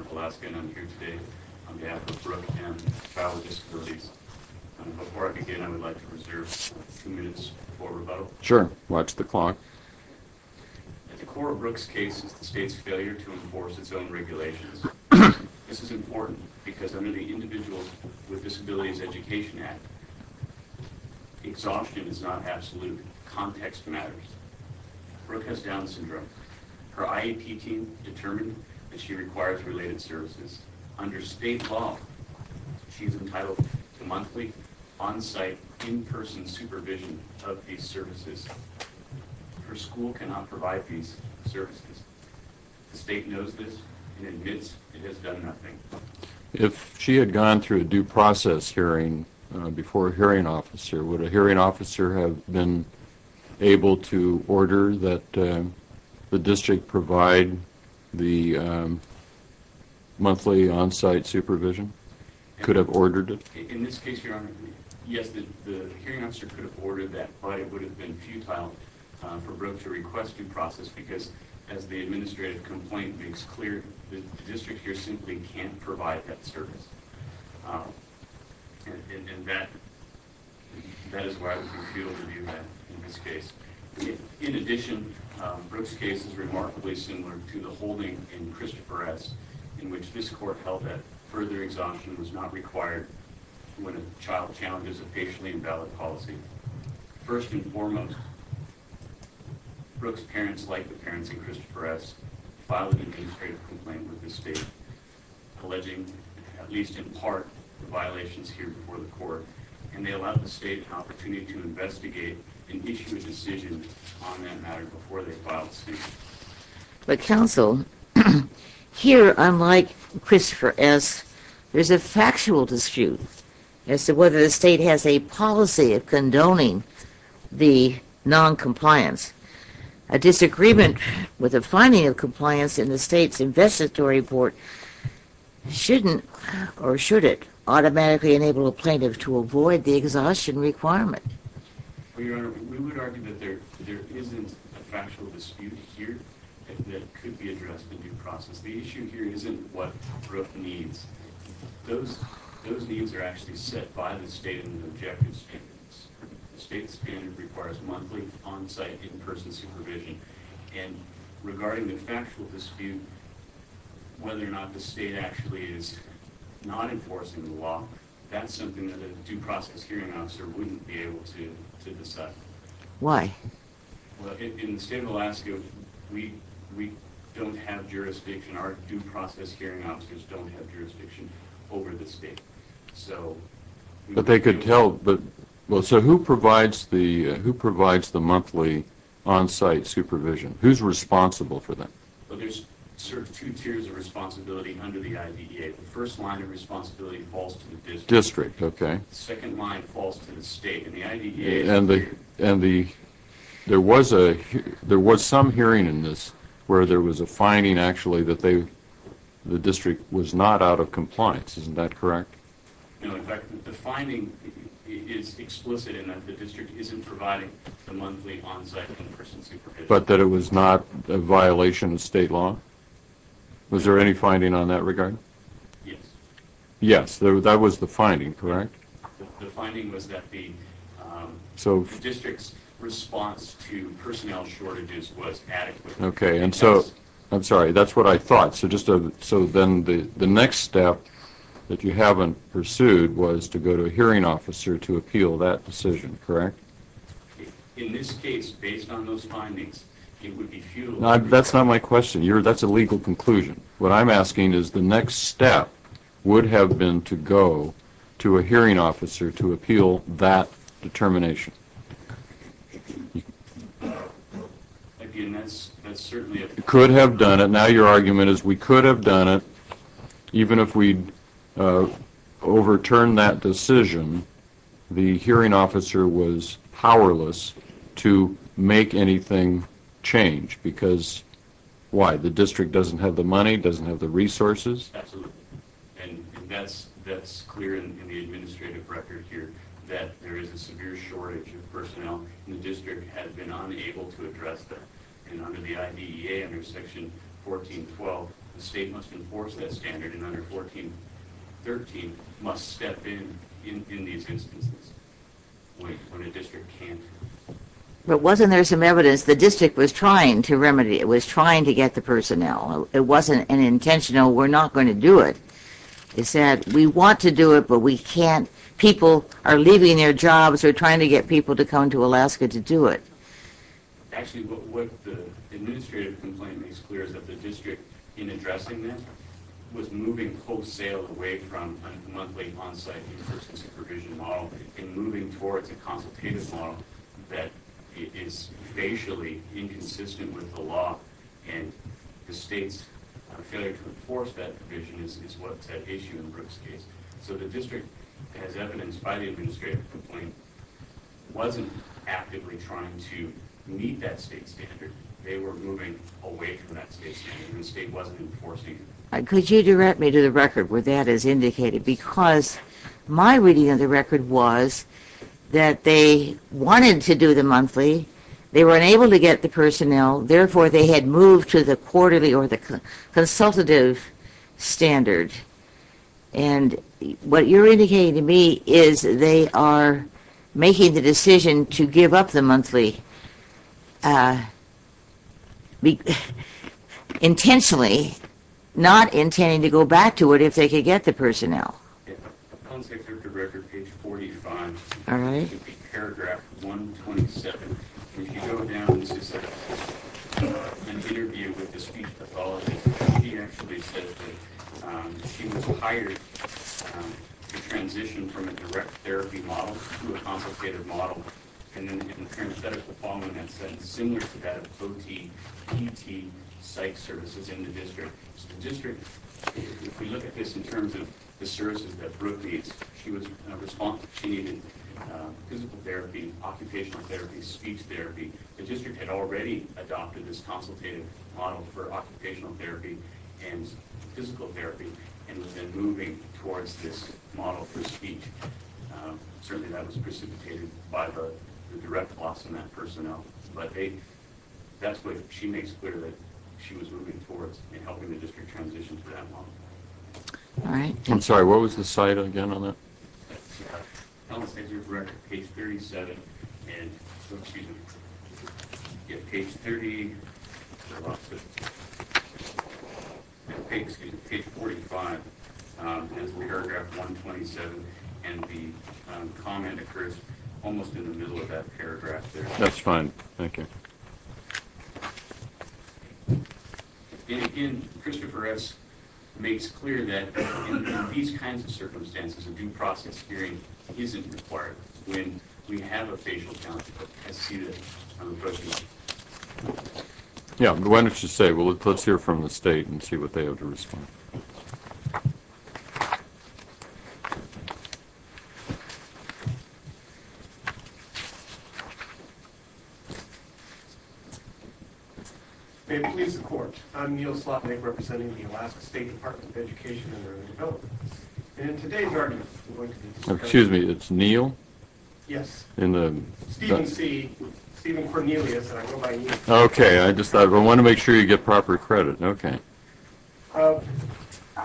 of Alaska, and I'm here today on behalf of Brooke and Child with Disabilities. And before I begin, I would like to reserve a few minutes for rebuttal. At the core of Brooke's case is the state's failure to enforce its own regulations. This is important because under the Individuals with Disabilities Education Act, exhaustion is not absolute. Context matters. Brooke has Down syndrome. Her IEP team determined that she requires related services. Under state law, she's entitled to monthly, on-site, in-person supervision of these services. Her school cannot provide these services. The state knows this and admits it has done nothing. If she had gone through a due process hearing before a hearing officer, would a hearing officer have been able to order that the district provide the monthly on-site supervision? Could have ordered it? In this case, Your Honor, yes, the hearing officer could have ordered that, but it would have been futile for Brooke to request due process hearing. The district here simply can't provide that service. And that is why I would refute or review that in this case. In addition, Brooke's case is remarkably similar to the holding in Christopher S., in which this court held that further exhaustion was not required when a child challenges a patiently invalid policy. First and foremost, Brooke's parents, like the parents of Christopher S., filed an administrative complaint with the state, alleging, at least in part, the violations here before the court, and they allowed the state an opportunity to investigate and issue a decision on that matter before they filed a statement. But counsel, here, unlike Christopher S., there's a factual dispute as to whether the state has a policy of condoning the noncompliance. A disagreement with the finding of compliance in the state's investitory report shouldn't, or should it, automatically enable a plaintiff to avoid the exhaustion requirement. Well, Your Honor, we would argue that there isn't a factual dispute here that could be addressed in due process. The issue here isn't what the state and the objective standards. The state standard requires monthly, on-site, in-person supervision, and regarding the factual dispute, whether or not the state actually is not enforcing the law, that's something that a due process hearing officer wouldn't be able to decide. Why? Well, in the state of Alaska, we don't have jurisdiction, our But they could tell, but, so who provides the monthly on-site supervision? Who's responsible for that? Well, there's sort of two tiers of responsibility under the IDDA. The first line of responsibility falls to the district. District, okay. The second line falls to the state, and the IDDA... And the, there was some hearing in this where there was a finding, actually, that they, the district was not out of compliance. Isn't that correct? No, in fact, the finding is explicit in that the district isn't providing the monthly on-site in-person supervision. But that it was not a violation of state law? Was there any finding on that regard? Yes. Yes, that was the finding, correct? The finding was that the district's response to personnel shortages was adequate. Okay, and so, I'm sorry, that's what I thought. So just a, so then the next step that you haven't pursued was to go to a hearing officer to appeal that decision, correct? In this case, based on those findings, it would be futile... That's not my question. You're, that's a legal conclusion. What I'm asking is the next step would have been to go to a hearing officer to appeal that determination. Again, that's certainly... Could have done it. Now your argument is we could have done it, even if we'd overturned that decision, the hearing officer was powerless to make anything change because, why, the district doesn't have the money, doesn't have the resources? Absolutely. And that's clear in the administrative record here, that there is a severe shortage of personnel and the district has been unable to address that. And under the IDEA, under Section 1412, the state must enforce that standard and under 1413 must step in, in these instances, when a district can't. But wasn't there some evidence the district was trying to remedy, was trying to get the personnel? It wasn't an intentional, we're not going to do it. It said, we want to do it, but we can't. People are leaving their jobs, they're trying to get people to come to Alaska to do it. Actually, what the administrative complaint makes clear is that the district, in addressing that, was moving wholesale away from a monthly onsite enforcement supervision model and moving towards a consultative model that is facially inconsistent with the law and the state's failure to enforce that provision is what's at issue in Brooke's case. So the district, as evidenced by the administrative complaint, wasn't actively trying to meet that state standard. They were moving away from that state standard. The state wasn't enforcing it. Could you direct me to the record where that is indicated? Because my reading of the record was that they wanted to do the monthly, they were unable to get the personnel, therefore they had moved to the quarterly or the consultative standard. And what you're indicating to me is they are making the decision to give up the monthly intentionally, not intending to go back to it if they could get the personnel. The concept of the record, page 45, should be paragraph 127. If you go down and interview with the speech pathologist, she actually says that she was hired to transition from a direct therapy model to a consultative model. And then in the parenthetical following it says, similar to that of OT, PT, psych services in the district. So the district, if we look at this in terms of the services that Brooke needs, she was responsive. She needed physical therapy, occupational therapy, speech therapy. The district had already adopted this consultative model for occupational therapy and physical therapy and was then moving towards this model for speech. Certainly that was precipitated by the direct loss in that personnel. But that's what she makes clear that she was moving towards in helping the district transition to that model. I'm sorry, what was the site again on that? Tell us if you're correct, page 37, and, excuse me, if page 30, no, excuse me, page 45 is paragraph 127 and the comment occurs almost in the middle of that paragraph there. That's fine, thank you. And again, Christopher S. makes clear that in these kinds of circumstances, a due process hearing isn't required when we have a facial count as seated on the podium. Yeah, why don't you say, let's hear from the state and see what they have to respond. May it please the court, I'm Neal Slotnick, representing the Alaska State Department of Education and Early Development, and today's argument is going to be... Excuse me, it's Neal? Yes. In the... Stephen C., Stephen Cornelius, and I go by Neal. Okay, I just thought, I want to make sure you get proper credit, okay.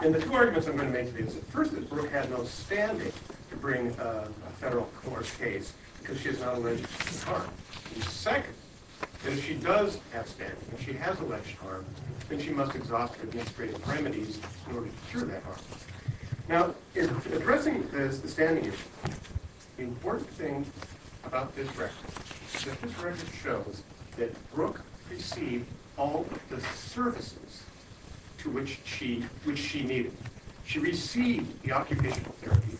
In the two arguments I'm going to make today, the first is Brooke had no standing to bring a federal court case because she has not alleged any harm. The second, that if she does have standing, if she has alleged harm, then she must exhaust administrative remedies in order to cure that harm. Now, in addressing the standing issue, the important thing about this record is that this record shows that Brooke received all of the services to which she needed. She received the occupational therapy,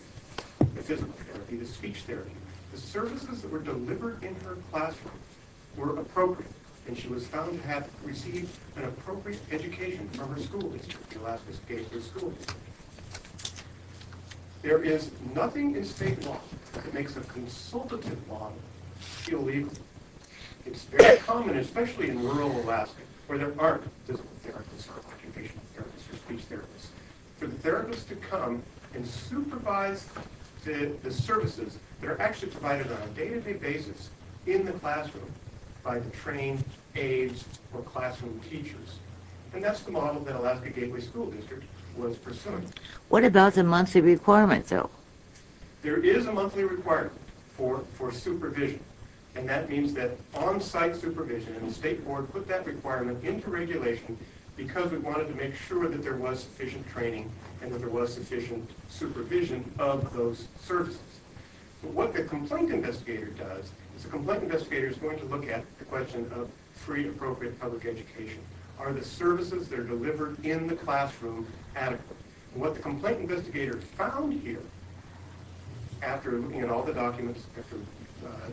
the physical therapy, the speech therapy. The services that were delivered in her classroom were appropriate, and she was found to have received an appropriate education from her school district. The Alaskans gave her school. There is nothing in state law that makes a consultative law feel legal. It's very common, especially in rural Alaska, where there aren't physical therapists or therapists to come and supervise the services that are actually provided on a day-to-day basis in the classroom by the trained aides or classroom teachers. And that's the model that Alaska Gateway School District was pursuing. What about the monthly requirements, though? There is a monthly requirement for supervision, and that means that on-site supervision, and the state board put that requirement into regulation because we wanted to make sure that there was sufficient training and that there was sufficient supervision of those services. What the complaint investigator does is the complaint investigator is going to look at the question of free, appropriate public education. Are the services that are delivered in the classroom adequate? What the complaint investigator found here, after looking at all the documents, after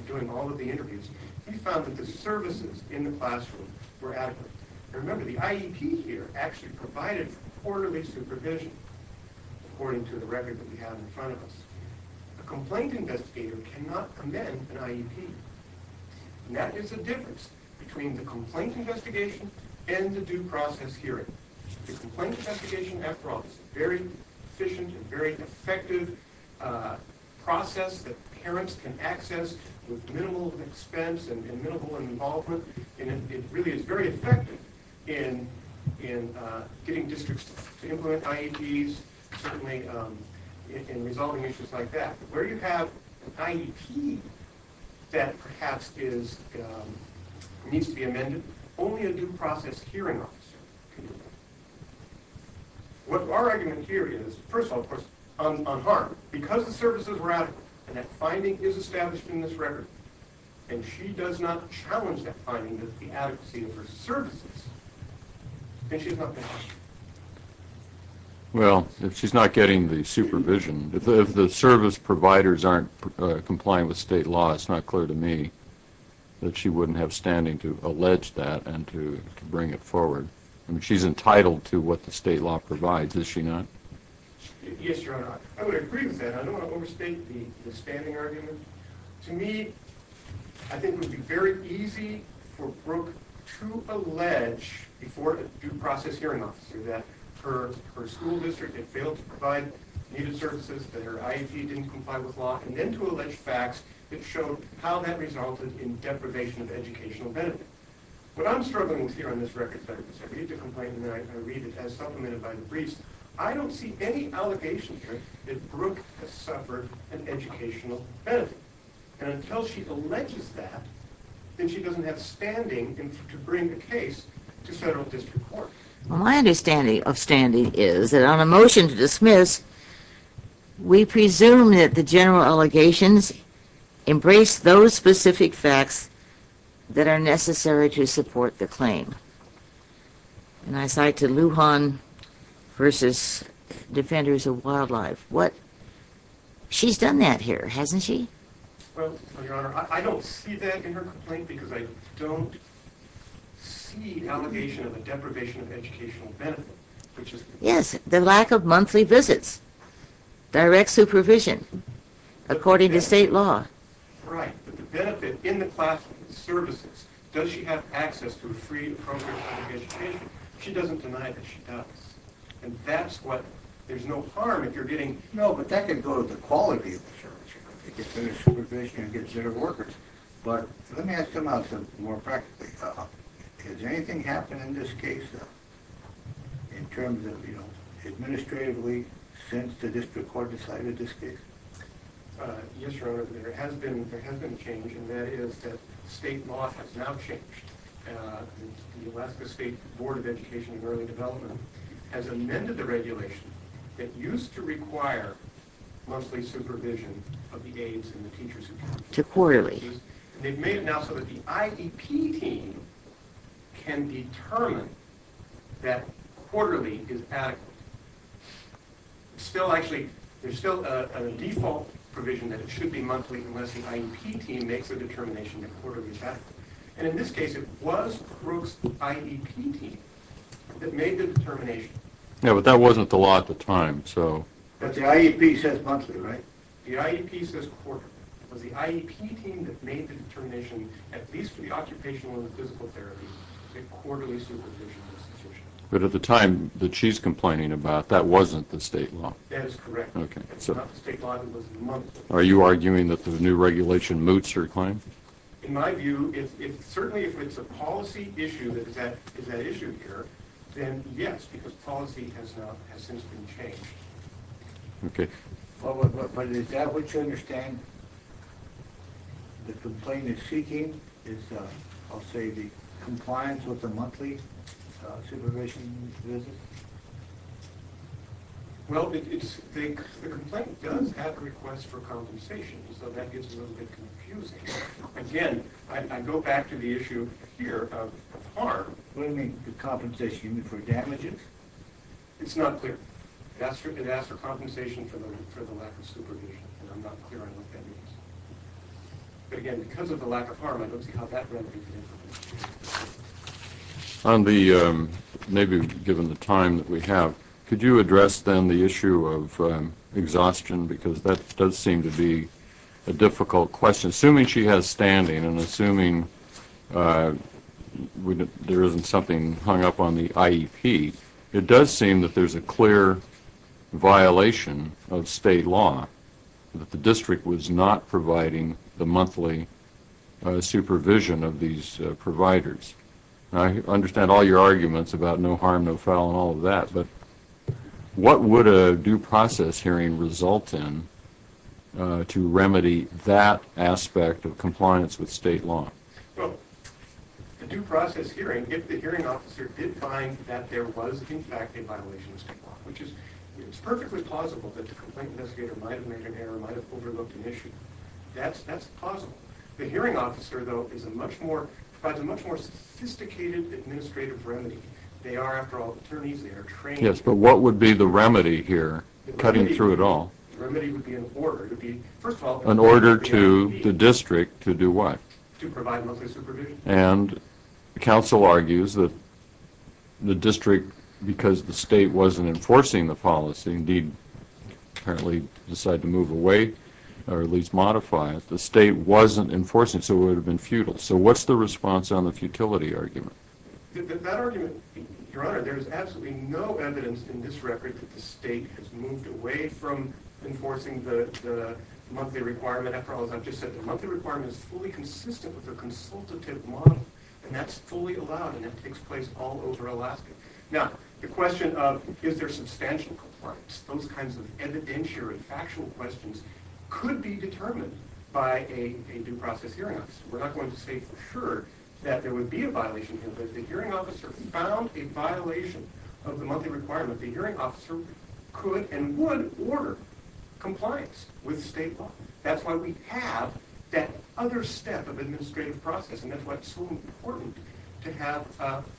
doing all of the interviews, he found that the services in the classroom were adequate. And remember, the IEP here actually provided quarterly supervision, according to the record that we have in front of us. A complaint investigator cannot amend an IEP. And that is the difference between the complaint investigation and the due process hearing. The complaint investigation, after all, is a very efficient and very effective process that parents can access with minimal expense and minimal involvement. And it really is very effective in getting districts to implement IEPs, certainly in resolving issues like that. But where you have an IEP that perhaps needs to be amended, only a due process hearing officer can do that. What our argument here is, first of all, of course, on harm. Because the services were adequate, and that finding is established in this record, and she does not challenge that finding of the adequacy of her services. And she's not getting it. Well, she's not getting the supervision. If the service providers aren't complying with state law, it's not clear to me that she wouldn't have standing to allege that and to bring it forward. I mean, she's entitled to what the state law provides, is she not? Yes, Your Honor, I would agree with that. I don't want to overstate the standing argument. To me, I think it would be very easy for Brooke to allege before a due process hearing officer that her school district had failed to provide needed services, that her IEP didn't comply with law, and then to allege facts that show how that resulted in deprivation of educational benefit. What I'm struggling with here on this record is I read the complaint, and then I read it as supplemented by the briefs. I don't see any allegation here that Brooke has suffered an educational benefit. And until she alleges that, then she doesn't have standing to bring a case to federal district court. Well, my understanding of standing is that on a motion to dismiss, we presume that the general allegations embrace those specific facts that are necessary to support the claim. And I cite to Lujan v. Defenders of Wildlife. What? She's done that here, hasn't she? Well, Your Honor, I don't see that in her complaint, because I don't see allegation of a deprivation of educational benefit. Yes, the lack of monthly visits, direct supervision, according to state law. Right, but the benefit in the classroom services. Does she have access to a free and appropriate public education? She doesn't deny that she does. And that's what, there's no harm if you're getting... No, but that could go to the quality of the service. It gets better supervision, it gets better workers. But let me ask him out more practically. Has anything happened in this case, in terms of, you know, administratively since the district court decided this case? Yes, Your Honor, there has been a change, and that is that state law has now changed. The Alaska State Board of Education and Early Development has amended the regulation that used to require monthly supervision of the aides and the teachers who come. To quarterly. They've made it now so that the IDP team can determine that quarterly is adequate. Still, actually, there's still a default provision that it should be monthly unless the IEP team makes a determination that quarterly is adequate. And in this case, it was Crook's IEP team that made the determination. Yeah, but that wasn't the law at the time, so... But the IEP says monthly, right? The IEP says quarterly. It was the IEP team that made the determination, at least for the occupational and the physical therapy, that quarterly supervision was sufficient. But at the time that she's complaining about, that wasn't the state law. That is correct. It's not the state law, it was the monthly. Are you arguing that the new regulation moots her claim? In my view, certainly if it's a policy issue that is at issue here, then yes, because policy has since been changed. Okay. But is that what you understand the complaint is seeking? I'll say the compliance with the monthly supervision visit? Well, the complaint does have requests for compensation, so that gets a little bit confusing. Again, I go back to the issue here of harm. What do you mean the compensation? You mean for damages? It's not clear. It asks for compensation for the lack of supervision, and I'm not clear on what that means. But, again, because of the lack of harm, I don't see how that relates. Maybe given the time that we have, could you address then the issue of exhaustion, because that does seem to be a difficult question. Assuming she has standing and assuming there isn't something hung up on the IEP, it does seem that there's a clear violation of state law, that the district was not providing the monthly supervision of these providers. I understand all your arguments about no harm, no foul, and all of that, but what would a due process hearing result in to remedy that aspect of compliance with state law? Well, the due process hearing, if the hearing officer did find that there was, in fact, a violation of state law, which is perfectly plausible, that the complaint investigator might have made an error, might have overlooked an issue. That's plausible. The hearing officer, though, provides a much more sophisticated administrative remedy. They are, after all, attorneys. They are trained. Yes, but what would be the remedy here, cutting through it all? The remedy would be an order. It would be, first of all, an order to the district to do what? To provide monthly supervision. And counsel argues that the district, because the state wasn't enforcing the policy, indeed, apparently decided to move away or at least modify it, the state wasn't enforcing it, so it would have been futile. So what's the response on the futility argument? That argument, Your Honor, there is absolutely no evidence in this record that the state has moved away from enforcing the monthly requirement. After all, as I've just said, the monthly requirement is fully consistent with the consultative model, and that's fully allowed, and that takes place all over Alaska. Now, the question of is there substantial compliance, those kinds of evidentiary and factual questions could be determined by a due process hearing officer. We're not going to say for sure that there would be a violation here, but if the hearing officer found a violation of the monthly requirement, the hearing officer could and would order compliance with state law. That's why we have that other step of administrative process, and that's why it's so important to have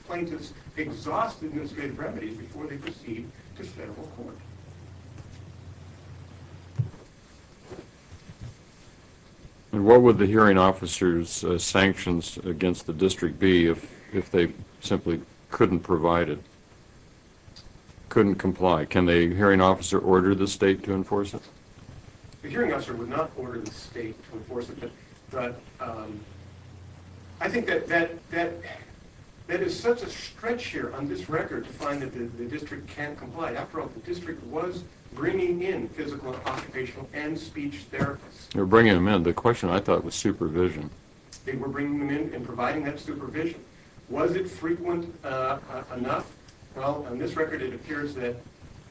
plaintiffs exhaust administrative remedies before they proceed to federal court. And what would the hearing officer's sanctions against the district be if they simply couldn't provide it, couldn't comply? Can a hearing officer order the state to enforce it? The hearing officer would not order the state to enforce it, but I think that is such a stretch here on this record to find that the district can't comply. After all, the district was bringing in physical and occupational and speech therapists. They were bringing them in. The question, I thought, was supervision. They were bringing them in and providing that supervision. Was it frequent enough? Well, on this record, it appears that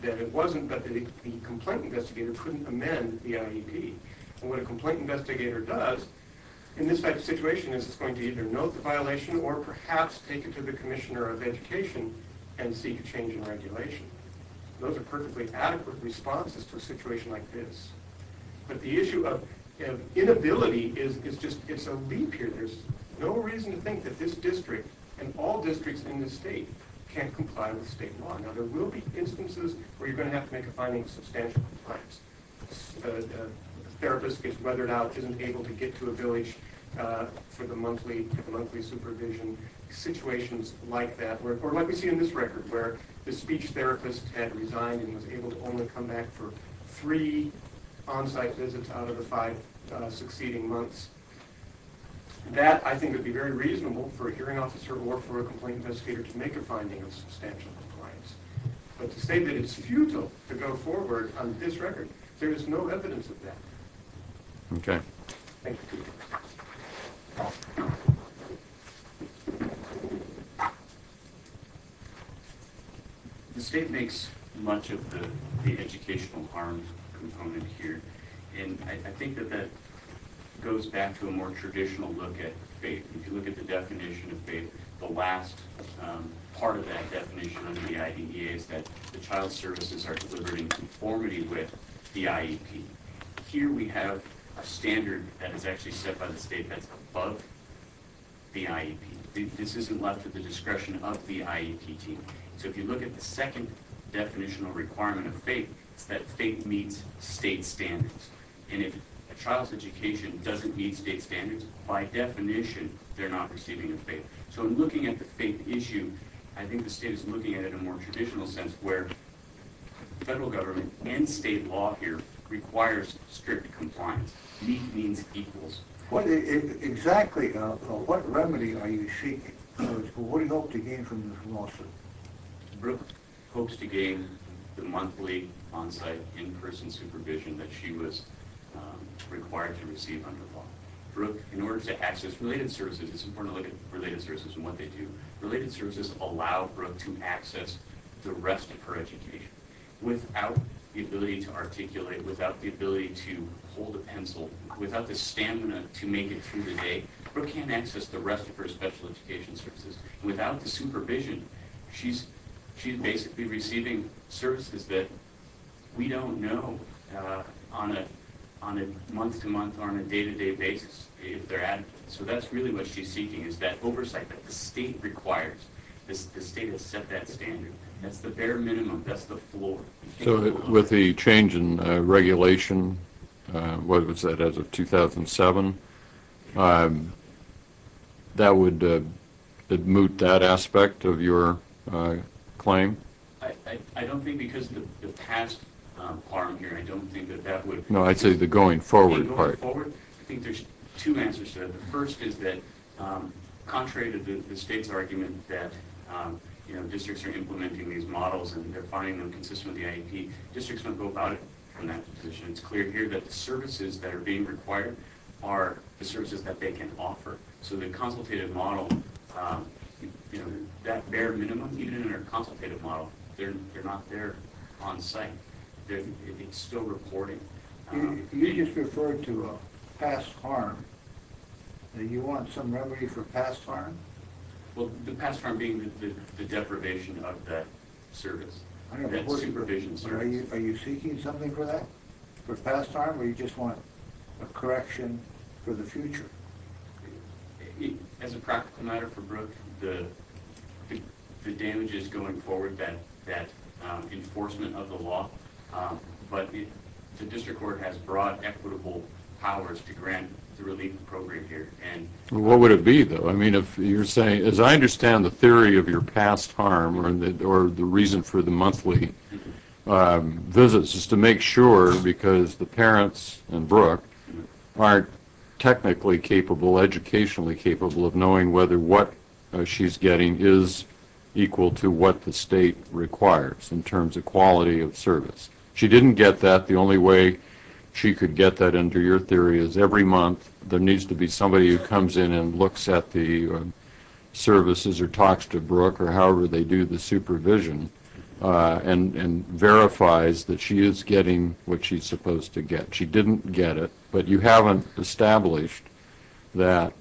it wasn't, but the complaint investigator couldn't amend the IEP. And what a complaint investigator does in this type of situation is it's going to either note the violation or perhaps take it to the commissioner of education and seek a change in regulation. Those are perfectly adequate responses to a situation like this. But the issue of inability is just a leap here. There's no reason to think that this district and all districts in this state can't comply with state law. Now, there will be instances where you're going to have to make a finding of substantial compliance. A therapist gets weathered out, isn't able to get to a village for the monthly supervision. Situations like that, or like we see in this record, where the speech therapist had resigned and was able to only come back for three on-site visits out of the five succeeding months. That, I think, would be very reasonable for a hearing officer or for a complaint investigator to make a finding of substantial compliance. But to say that it's futile to go forward on this record, there is no evidence of that. Okay. Thank you. The state makes much of the educational harm component here, and I think that that goes back to a more traditional look at fate. If you look at the definition of fate, the last part of that definition under the IDEA is that the child services are delivered in conformity with the IEP. Here we have a standard that is actually set by the state that's above the IEP. This isn't left at the discretion of the IEP team. So if you look at the second definitional requirement of fate, it's that fate meets state standards. And if a child's education doesn't meet state standards, by definition they're not receiving a fate. So in looking at the fate issue, I think the state is looking at it in a more traditional sense, where federal government and state law here requires strict compliance. Meet means equals. Exactly. What remedy are you seeking? What do you hope to gain from this lawsuit? Brooke hopes to gain the monthly onsite in-person supervision that she was required to receive under the law. In order to access related services, it's important to look at related services and what they do. Related services allow Brooke to access the rest of her education. Without the ability to articulate, without the ability to hold a pencil, without the stamina to make it through the day, Brooke can't access the rest of her special education services. Without the supervision, she's basically receiving services that we don't know on a month-to-month or on a day-to-day basis if they're adequate. So that's really what she's seeking is that oversight that the state requires. The state has set that standard. That's the bare minimum. That's the floor. So with the change in regulation, what was that, as of 2007, that would moot that aspect of your claim? I don't think because of the past harm here, I don't think that that would. No, I'd say the going forward part. The going forward, I think there's two answers to that. The first is that contrary to the state's argument that, you know, districts don't go about it from that position. It's clear here that the services that are being required are the services that they can offer. So the consultative model, you know, that bare minimum, even in our consultative model, they're not there on site. It's still reporting. You just referred to past harm. You want some remedy for past harm? Well, the past harm being the deprivation of that service. Are you seeking something for that, for past harm, or you just want a correction for the future? As a practical matter for Brooke, the damage is going forward, that enforcement of the law, but the district court has broad equitable powers to grant the relief program here. What would it be, though? I mean, if you're saying, as I understand the theory of your past harm, or the reason for the monthly visits is to make sure because the parents and Brooke aren't technically capable, educationally capable of knowing whether what she's getting is equal to what the state requires in terms of quality of service. She didn't get that. The only way she could get that under your theory is every month there needs to be somebody who comes in and looks at the services or talks to Brooke or however they do the supervision and verifies that she is getting what she's supposed to get. She didn't get it, but you haven't established that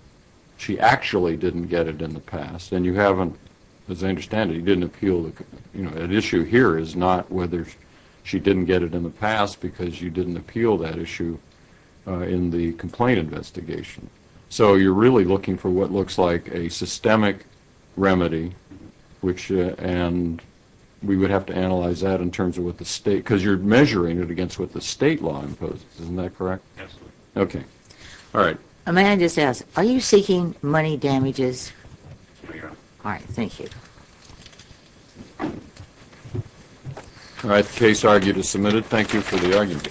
she actually didn't get it in the past, and you haven't, as I understand it, you didn't appeal. An issue here is not whether she didn't get it in the past because you didn't appeal that issue in the complaint investigation. So you're really looking for what looks like a systemic remedy, and we would have to analyze that in terms of what the state, because you're measuring it against what the state law imposes. Isn't that correct? Absolutely. Okay. All right. May I just ask, are you seeking money damages? I am. All right. Thank you. All right. The case argued is submitted. Thank you for the argument.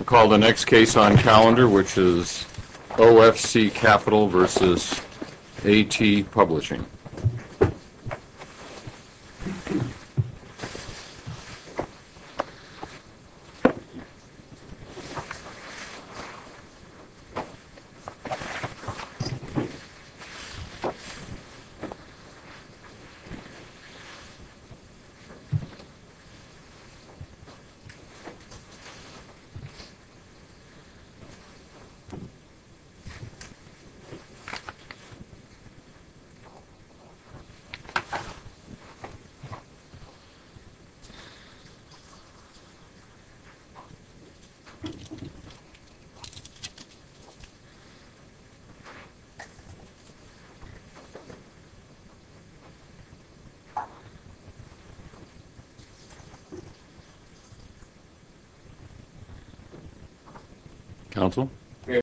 We'll call the next case on calendar, which is OFC Capital v. AT Publishing. Thank you. Counsel?